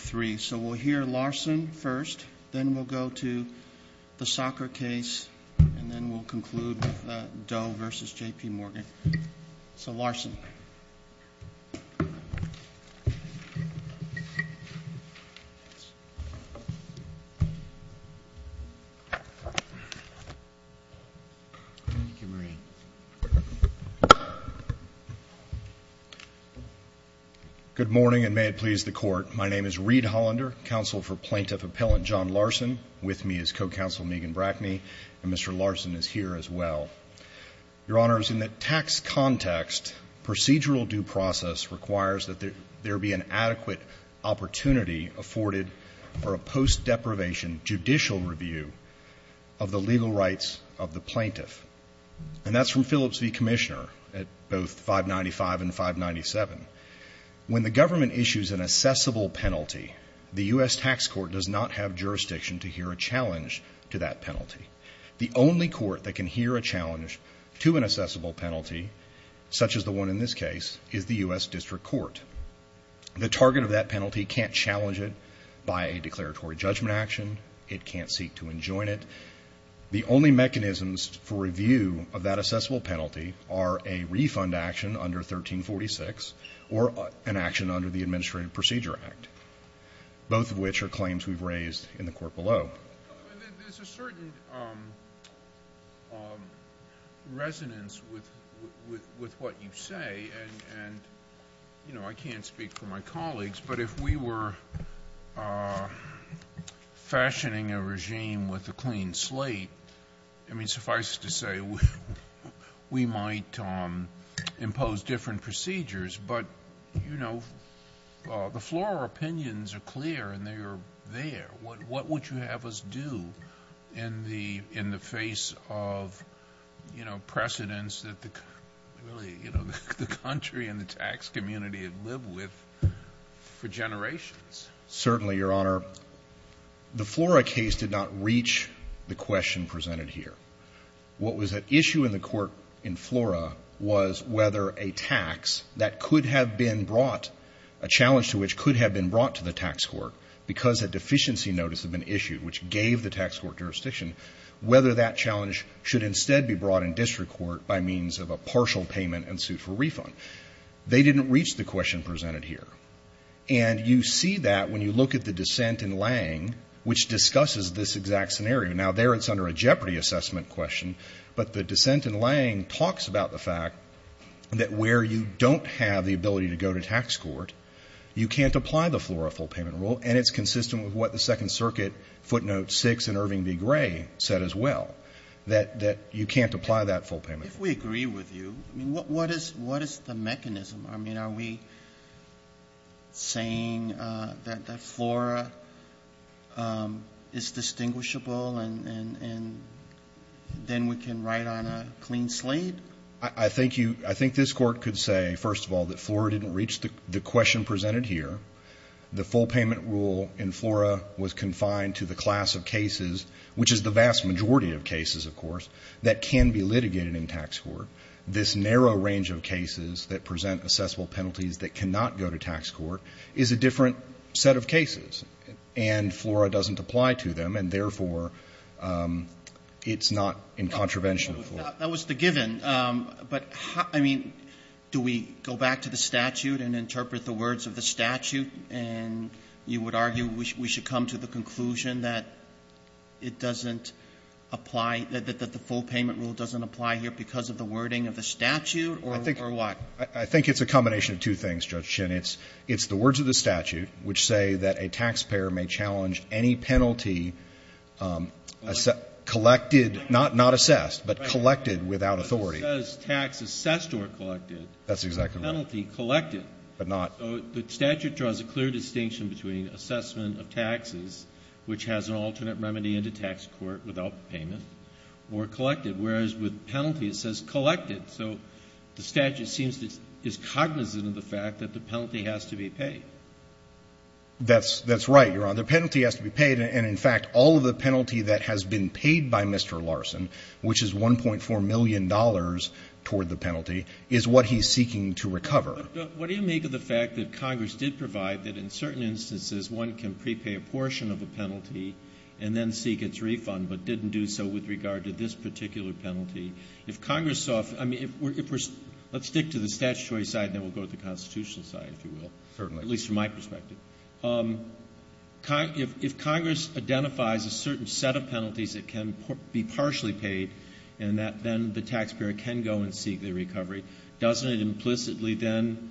So we'll hear Larson first, then we'll go to the soccer case, and then we'll conclude with Doe v. J.P. Morgan. So, Larson. Good morning, and may it please the court. My name is Reed Hollander, counsel for plaintiff appellant John Larson. With me is co-counsel Megan Brackney, and Mr. Larson is here as well. Your Honors, in the tax context, procedural due process requires that there be an adequate opportunity afforded for a post-deprivation judicial review of the legal rights of the plaintiff. And that's from Phillips v. Commissioner at both 595 and 597. When the government issues an assessable penalty, the U.S. Tax Court does not have jurisdiction to hear a challenge to that penalty. The only court that can hear a challenge to an assessable penalty, such as the one in this case, is the U.S. District Court. The target of that penalty can't challenge it by a declaratory judgment action. It can't seek to enjoin it. The only mechanisms for review of that assessable penalty are a refund action under 1346 or an action under the Administrative Procedure Act, both of which are claims we've raised in the court below. There's a certain resonance with what you say, and, you know, I can't speak for my colleagues, but if we were fashioning a regime with a clean slate, I mean, suffice it to say, we might impose different procedures, but, you know, the floral opinions are clear, and they are there. What would you have us do in the face of, you know, precedents that the country and the U.S. District Court have had for generations? Certainly, Your Honor. The Flora case did not reach the question presented here. What was at issue in the court in Flora was whether a tax that could have been brought, a challenge to which could have been brought to the tax court because a deficiency notice had been issued, which gave the tax court jurisdiction, whether that challenge should instead be brought in district court by means of a partial payment and suit for refund. They didn't reach the question presented here. And you see that when you look at the dissent in Lange, which discusses this exact scenario. Now, there it's under a jeopardy assessment question, but the dissent in Lange talks about the fact that where you don't have the ability to go to tax court, you can't apply the Flora full payment rule, and it's consistent with what the Second Circuit footnote 6 in Irving v. Gray said as well, that you can't apply that full payment rule. If we agree with you, I mean, what is the mechanism? I mean, are we saying that Flora is distinguishable and then we can write on a clean slate? I think this Court could say, first of all, that Flora didn't reach the question presented here. The full payment rule in Flora was confined to the class of cases, which is the vast majority of cases, of course, that can be litigated in tax court. This narrow range of cases that present assessable penalties that cannot go to tax court is a different set of cases. And Flora doesn't apply to them, and therefore, it's not in contravention of Flora. Roberts. That was the given. But, I mean, do we go back to the statute and interpret the words of the statute and you would argue we should come to the conclusion that it doesn't apply, that the full payment rule doesn't apply here because of the wording of the statute, or what? I think it's a combination of two things, Judge Shin. It's the words of the statute which say that a taxpayer may challenge any penalty collected, not assessed, but collected without authority. But it says tax assessed or collected. That's exactly right. Penalty collected. But not. The statute draws a clear distinction between assessment of taxes, which has an alternate remedy in the tax court without payment, or collected. Whereas with penalty, it says collected. So the statute seems to be cognizant of the fact that the penalty has to be paid. That's right, Your Honor. The penalty has to be paid. And, in fact, all of the penalty that has been paid by Mr. Larson, which is $1.4 million toward the penalty, is what he's seeking to recover. What do you make of the fact that Congress did provide that, in certain instances, one can prepay a portion of a penalty and then seek its refund, but didn't do so with regard to this particular penalty? If Congress saw, I mean, if we're, let's stick to the statutory side and then we'll go to the constitutional side, if you will. Certainly. At least from my perspective. If Congress identifies a certain set of penalties that can be partially paid, and that then the taxpayer can go and seek their recovery, doesn't it implicitly then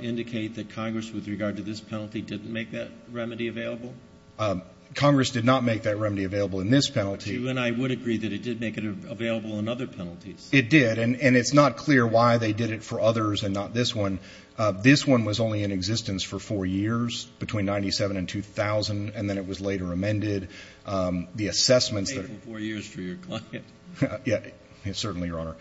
indicate that Congress, with regard to this penalty, didn't make that remedy available? Congress did not make that remedy available in this penalty. But you and I would agree that it did make it available in other penalties. It did. And it's not clear why they did it for others and not this one. This one was only in existence for four years, between 1997 and 2000, and then it was later amended. The assessments that are — Paid for four years for your client. Yeah. Certainly, Your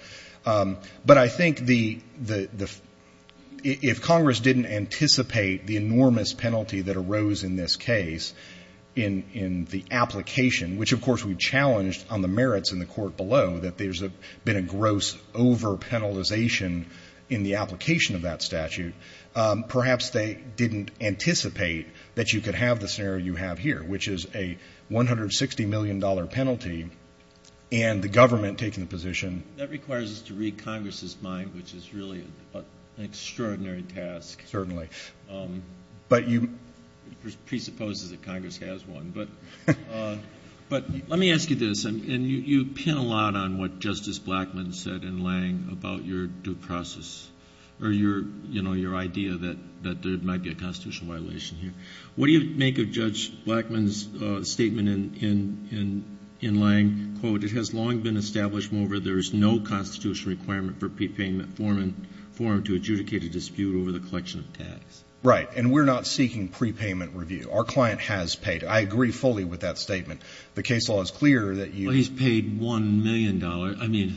Honor. But I think the — If Congress didn't anticipate the enormous penalty that arose in this case, in the application, which, of course, we challenged on the merits in the court below, that there's been a gross over-penalization in the application of that statute, perhaps they didn't anticipate that you could have the scenario you have here, which is a $160 million penalty and the government taking the position — It requires us to read Congress's mind, which is really an extraordinary task. Certainly. But you — Presupposes that Congress has one. But let me ask you this, and you pin a lot on what Justice Blackmun said in Lange about your due process, or your idea that there might be a constitutional violation here. What do you make of Judge Blackmun's statement in Lange, quote, It has long been established, Moreover, there is no constitutional requirement for prepayment form to adjudicate a dispute over the collection of tax. Right. And we're not seeking prepayment review. Our client has paid. I agree fully with that statement. The case law is clear that you — Well, he's paid $1 million. I mean,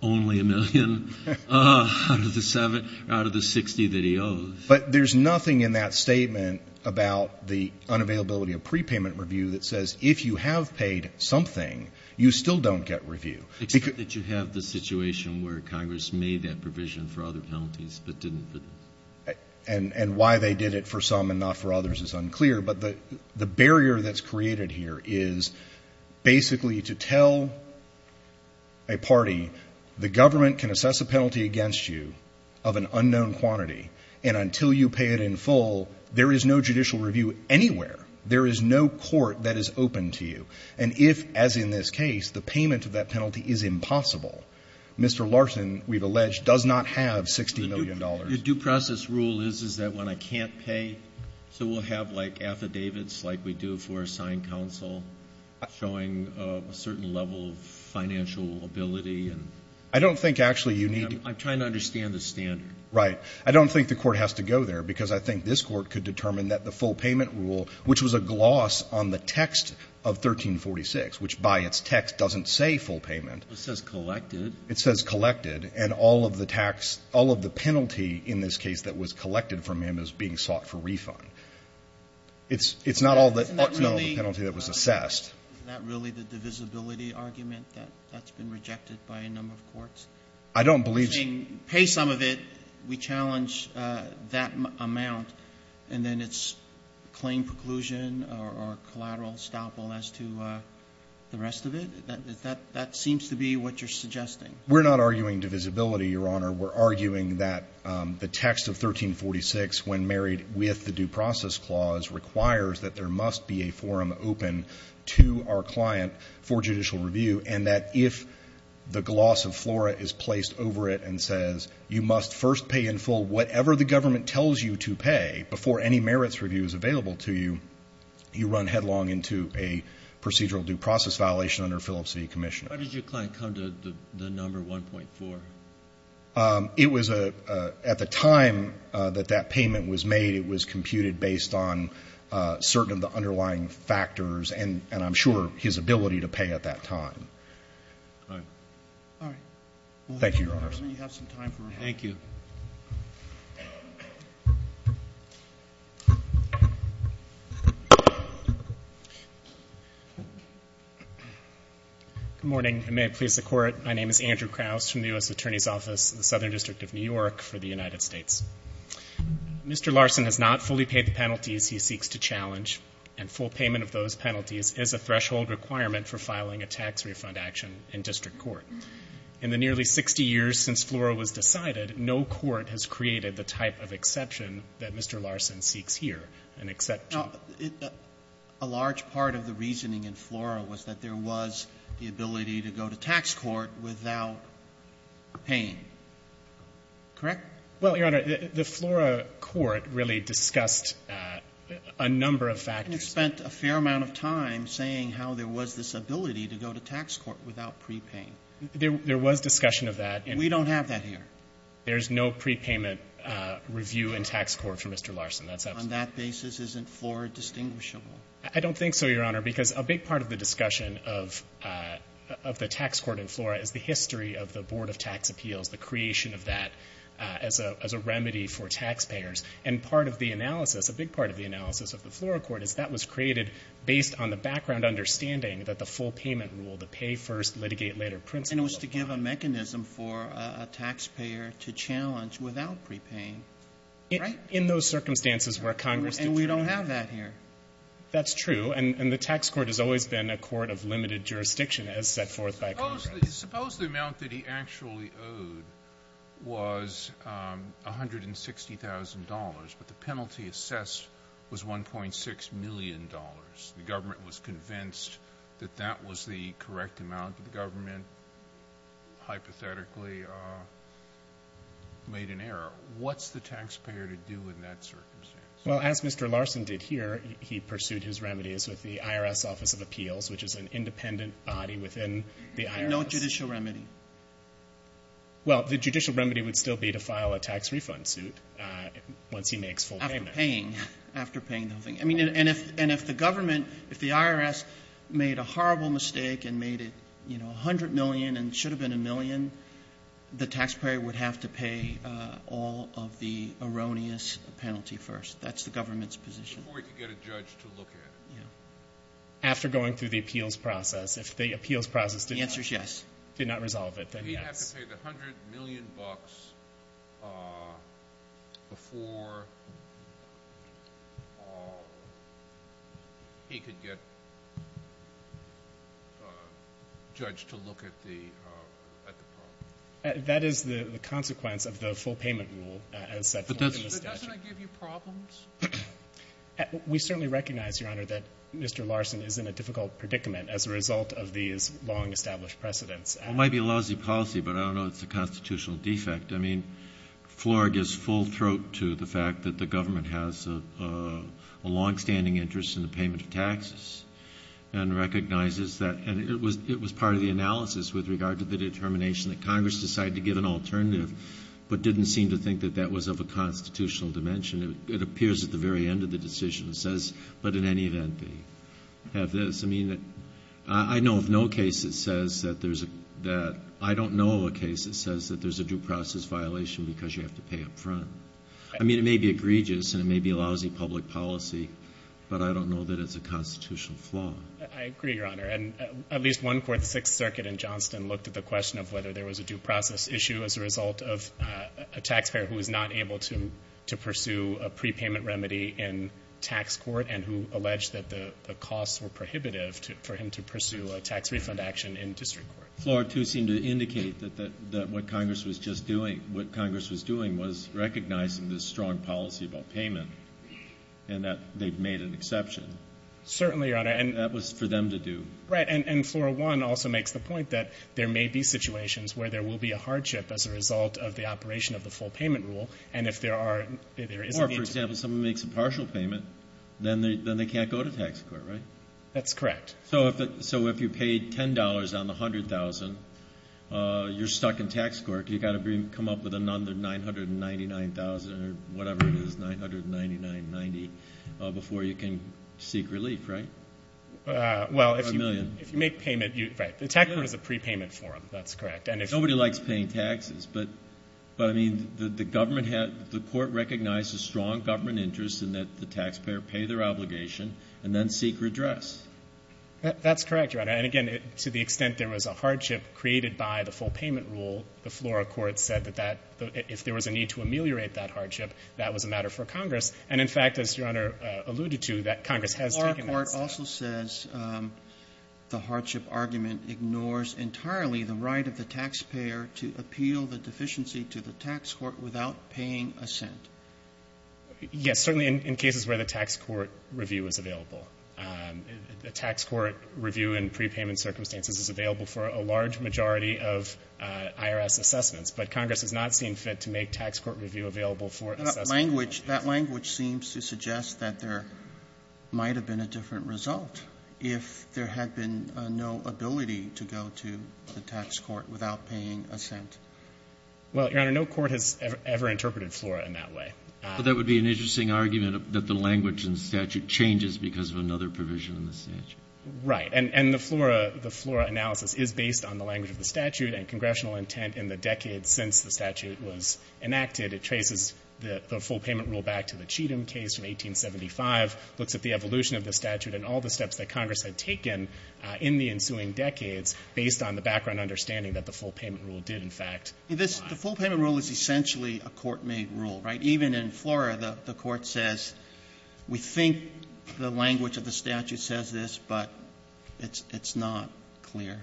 only a million out of the 60 that he owes. But there's nothing in that statement about the unavailability of prepayment review that says if you have paid something, you still don't get review. Except that you have the situation where Congress made that provision for other penalties, but didn't for this. And why they did it for some and not for others is unclear. But the barrier that's created here is basically to tell a party, The government can assess a penalty against you of an unknown quantity, and until you pay it in full, there is no judicial review anywhere. There is no court that is open to you. And if, as in this case, the payment of that penalty is impossible, Mr. Larson, we've alleged, does not have $60 million. The due process rule is, is that when I can't pay, so we'll have, like, affidavits like we do for a signed counsel showing a certain level of financial ability and — I don't think, actually, you need — I'm trying to understand the standard. Right. I don't think the Court has to go there, because I think this Court could determine that the full payment rule, which was a gloss on the text of 1346, which, by its text, doesn't say full payment — It says collected. It says collected. And all of the tax — all of the penalty in this case that was collected from him is being sought for refund. It's not all the penalty that was assessed. Isn't that really the divisibility argument that's been rejected by a number of courts? I don't believe — So you're saying, pay some of it, we challenge that amount, and then it's claim preclusion or collateral estoppel as to the rest of it? That seems to be what you're suggesting. We're not arguing divisibility, Your Honor. We're arguing that the text of 1346, when married with the due process clause, requires that there must be a forum open to our client for judicial review, and that if the gloss of flora is placed over it and says, you must first pay in full whatever the government tells you to pay before any merits review is available to you, you run headlong into a procedural due process violation under Phillips v. Commissioner. Why did your client come to the number 1.4? It was a — at the time that that payment was made, it was computed based on certain of the underlying factors and, I'm sure, his ability to pay at that time. All right. Thank you, Your Honor. Let me have some time for him. Thank you. Good morning, and may it please the Court. My name is Andrew Krauss from the U.S. Attorney's Office in the Southern District of New York for the United States. Mr. Larson has not fully paid the penalties he seeks to challenge, and full payment of those penalties is a threshold requirement for filing a tax refund action in district court. In the nearly 60 years since flora was decided, no court has created the type of exception that Mr. Larson seeks here, an exception. Now, a large part of the reasoning in flora was that there was the ability to go to tax court without paying. Correct? Well, Your Honor, the flora court really discussed a number of factors. You spent a fair amount of time saying how there was this ability to go to tax court without prepaying. There was discussion of that. We don't have that here. There's no prepayment review in tax court for Mr. Larson. That's — On that basis, isn't flora distinguishable? I don't think so, Your Honor, because a big part of the discussion of the tax court in flora is the history of the Board of Tax Appeals, the creation of that as a remedy for taxpayers. And part of the analysis, a big part of the analysis of the flora court is that was created based on the background understanding that the full payment rule, the pay first, litigate later principle — And it was to give a mechanism for a taxpayer to challenge without prepaying. Right? In those circumstances where Congress — And we don't have that here. That's true. And the tax court has always been a court of limited jurisdiction as set forth by Congress. Suppose the amount that he actually owed was $160,000, but the penalty assessed was $1.6 million. The government was convinced that that was the correct amount, but the government hypothetically made an error. What's the taxpayer to do in that circumstance? Well, as Mr. Larson did here, he pursued his remedies with the IRS Office of Appeals, which is an independent body within the IRS. No judicial remedy. Well, the judicial remedy would still be to file a tax refund suit once he makes full payment. After paying. After paying the whole thing. I mean, and if the government, if the IRS made a horrible mistake and made it, you know, $100 million and it should have been $1 million, the taxpayer would have to pay all of the erroneous penalty first. That's the government's position. Before you get a judge to look at it. Yeah. After going through the appeals process. If the appeals process did not. The answer is yes. Did not resolve it, then yes. He'd have to pay the $100 million before he could get a judge to look at the problem. That is the consequence of the full payment rule as set forth in the statute. But doesn't it give you problems? We certainly recognize, Your Honor, that Mr. Larson is in a difficult predicament as a result of these long-established precedents. It might be a lousy policy, but I don't know it's a constitutional defect. I mean, Flore gives full throat to the fact that the government has a longstanding interest in the payment of taxes and recognizes that. And it was part of the analysis with regard to the determination that Congress decided to give an alternative, but didn't seem to think that that was of a constitutional dimension. It appears at the very end of the decision. It says, but in any event, they have this. I mean, I know of no case that says that there's a due process violation because you have to pay up front. I mean, it may be egregious and it may be a lousy public policy, but I don't know that it's a constitutional flaw. I agree, Your Honor. And at least one court, the Sixth Circuit in Johnston, looked at the question of whether there was a due process issue as a result of a pre-payment remedy in tax court and who alleged that the costs were prohibitive for him to pursue a tax refund action in district court. Flore, too, seemed to indicate that what Congress was just doing, what Congress was doing was recognizing this strong policy about payment and that they've made an exception. Certainly, Your Honor. And that was for them to do. Right. And Flore 1 also makes the point that there may be situations where there will be a hardship as a result of the operation of the full payment rule, and if there are or, for example, someone makes a partial payment, then they can't go to tax court, right? That's correct. So if you paid $10 on the $100,000, you're stuck in tax court. You've got to come up with another $999,000 or whatever it is, $999.90, before you can seek relief, right? Well, if you make payment, right, the tax court is a pre-payment forum. That's correct. Nobody likes paying taxes. But, I mean, the government had the court recognized a strong government interest in that the taxpayer pay their obligation and then seek redress. That's correct, Your Honor. And, again, to the extent there was a hardship created by the full payment rule, the Flora court said that if there was a need to ameliorate that hardship, that was a matter for Congress. And, in fact, as Your Honor alluded to, that Congress has taken that step. But the Flora court also says the hardship argument ignores entirely the right of the taxpayer to appeal the deficiency to the tax court without paying a cent. Yes. Certainly in cases where the tax court review is available. The tax court review in pre-payment circumstances is available for a large majority of IRS assessments, but Congress has not seen fit to make tax court review available for assessment purposes. That language seems to suggest that there might have been a different result if there had been no ability to go to the tax court without paying a cent. Well, Your Honor, no court has ever interpreted Flora in that way. But that would be an interesting argument that the language in the statute changes because of another provision in the statute. Right. And the Flora analysis is based on the language of the statute and congressional intent in the decades since the statute was enacted. It traces the full payment rule back to the Cheatham case in 1875, looks at the evolution of the statute and all the steps that Congress had taken in the ensuing decades based on the background understanding that the full payment rule did, in fact, apply. The full payment rule is essentially a court-made rule, right? Even in Flora, the court says we think the language of the statute says this, but it's not clear.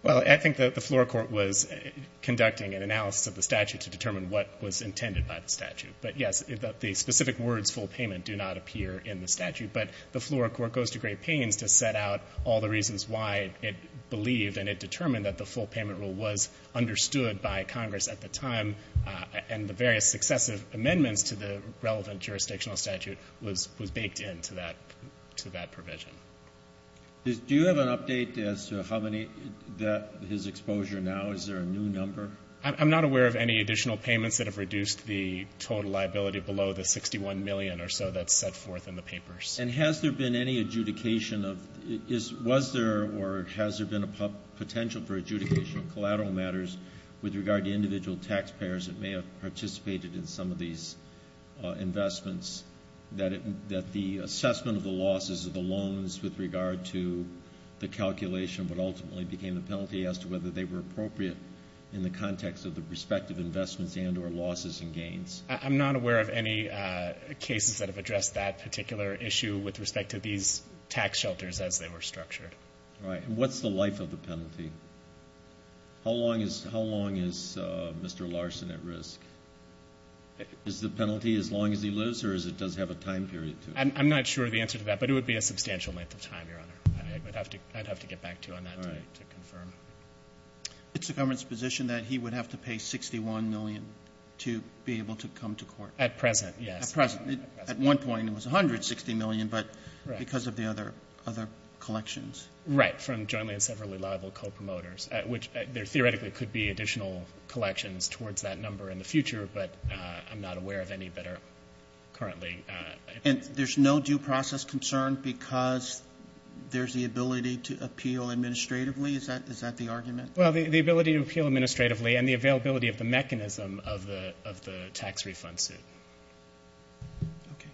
Well, I think the Flora court was conducting an analysis of the statute to determine what was intended by the statute. But, yes, the specific words full payment do not appear in the statute. But the Flora court goes to great pains to set out all the reasons why it believed and it determined that the full payment rule was understood by Congress at the time and the various successive amendments to the relevant jurisdictional statute was baked into that provision. Do you have an update as to how many that his exposure now? Is there a new number? I'm not aware of any additional payments that have reduced the total liability below the $61 million or so that's set forth in the papers. And has there been any adjudication of, was there or has there been a potential for adjudication of collateral matters with regard to individual taxpayers that may have participated in some of these investments, that the assessment of the losses of the loans with regard to the calculation would ultimately became the penalty as to whether they were appropriate in the context of the respective investments and or losses and gains? I'm not aware of any cases that have addressed that particular issue with respect to these tax shelters as they were structured. All right. And what's the life of the penalty? How long is Mr. Larson at risk? Is the penalty as long as he lives or does it have a time period to it? I'm not sure of the answer to that, but it would be a substantial length of time, Your Honor. I'd have to get back to you on that to confirm. It's the government's position that he would have to pay $61 million to be able to come to court? At present, yes. At present. At one point it was $160 million, but because of the other collections. Right, from jointly and separately liable co-promoters, which there theoretically could be additional collections towards that number in the future, but I'm not aware of any that are currently. And there's no due process concern because there's the ability to appeal administratively? Is that the argument? Well, the ability to appeal administratively and the availability of the mechanism of the tax refund suit. Okay.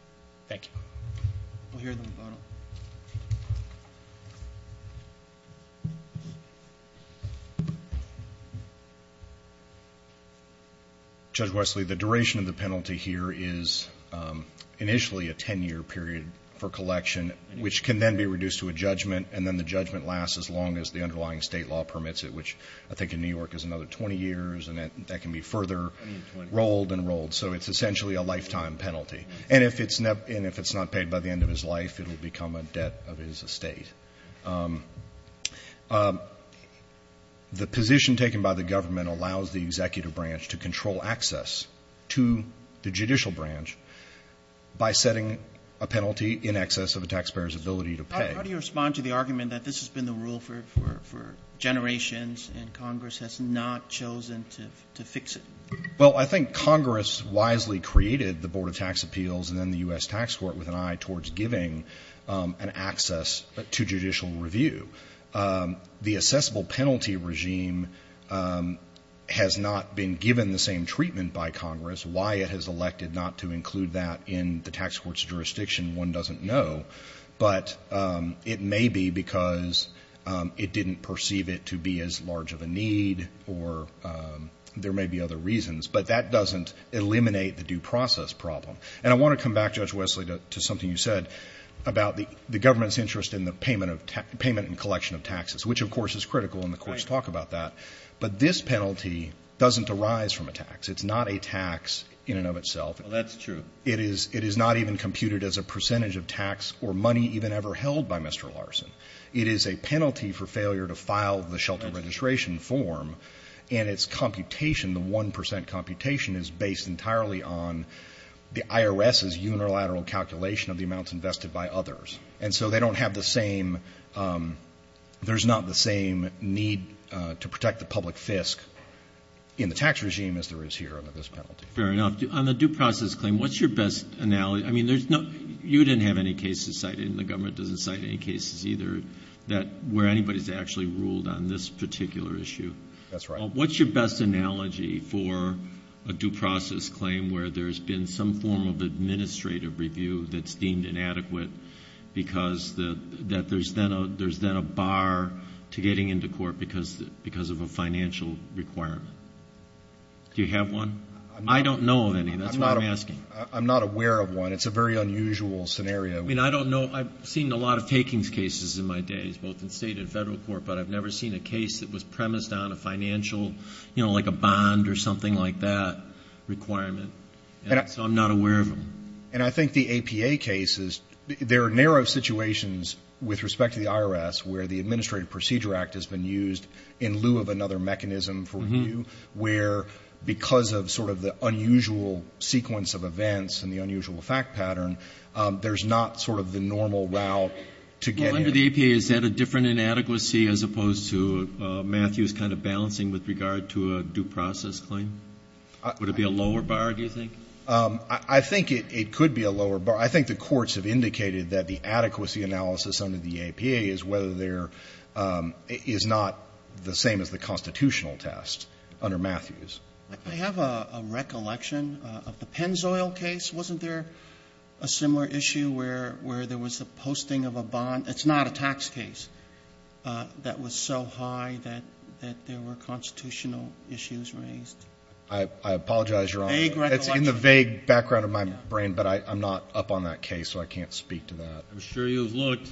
Thank you. We'll hear the rebuttal. Judge Wesley, the duration of the penalty here is initially a 10-year period for collection, which can then be reduced to a judgment, and then the judgment lasts as long as the underlying State law permits it, which I think in New York is another 20 years, and that can be further rolled and rolled. So it's essentially a lifetime penalty. And if it's not paid by the end of his life, it will become a debt of his estate. The position taken by the government allows the executive branch to control access to the judicial branch by setting a penalty in excess of a taxpayer's ability to pay. How do you respond to the argument that this has been the rule for generations and Congress has not chosen to fix it? Well, I think Congress wisely created the Board of Tax Appeals and then the U.S. Tax Court with an eye towards giving an access to judicial review. The assessable penalty regime has not been given the same treatment by Congress. Why it has elected not to include that in the tax court's jurisdiction, one doesn't know, but it may be because it didn't perceive it to be as large of a need or there may be other reasons, but that doesn't eliminate the due process problem. And I want to come back, Judge Wesley, to something you said about the government's interest in the payment and collection of taxes, which, of course, is critical and the courts talk about that. But this penalty doesn't arise from a tax. It's not a tax in and of itself. Well, that's true. It is not even computed as a percentage of tax or money even ever held by Mr. Larson. It is a penalty for failure to file the shelter registration form and its computation, the 1 percent computation, is based entirely on the IRS's unilateral calculation of the amounts invested by others. And so they don't have the same – there's not the same need to protect the public fisc in the tax regime as there is here under this penalty. Fair enough. On the due process claim, what's your best analogy? I mean, there's no – you didn't have any cases cited and the government doesn't cite any cases either where anybody's actually ruled on this particular issue. That's right. What's your best analogy for a due process claim where there's been some form of administrative review that's deemed inadequate because there's then a bar to getting into court because of a financial requirement? Do you have one? I don't know of any. That's why I'm asking. I'm not aware of one. It's a very unusual scenario. I mean, I don't know. I've seen a lot of takings cases in my days, both in state and federal court, but I've never seen a case that was premised on a financial, you know, like a bond or something like that requirement. And so I'm not aware of them. And I think the APA cases, there are narrow situations with respect to the IRS where the Administrative Procedure Act has been used in lieu of another mechanism for review where because of sort of the unusual sequence of events and the unusual fact pattern, there's not sort of the normal route to get in. Under the APA, is that a different inadequacy as opposed to Matthew's kind of balancing with regard to a due process claim? Would it be a lower bar, do you think? I think it could be a lower bar. I think the courts have indicated that the adequacy analysis under the APA is whether there is not the same as the constitutional test under Matthews. I have a recollection of the Pennzoil case. Wasn't there a similar issue where there was a posting of a bond? It's not a tax case that was so high that there were constitutional issues raised. I apologize, Your Honor. Vague recollection. It's in the vague background of my brain, but I'm not up on that case, so I can't speak to that. I'm sure you've looked.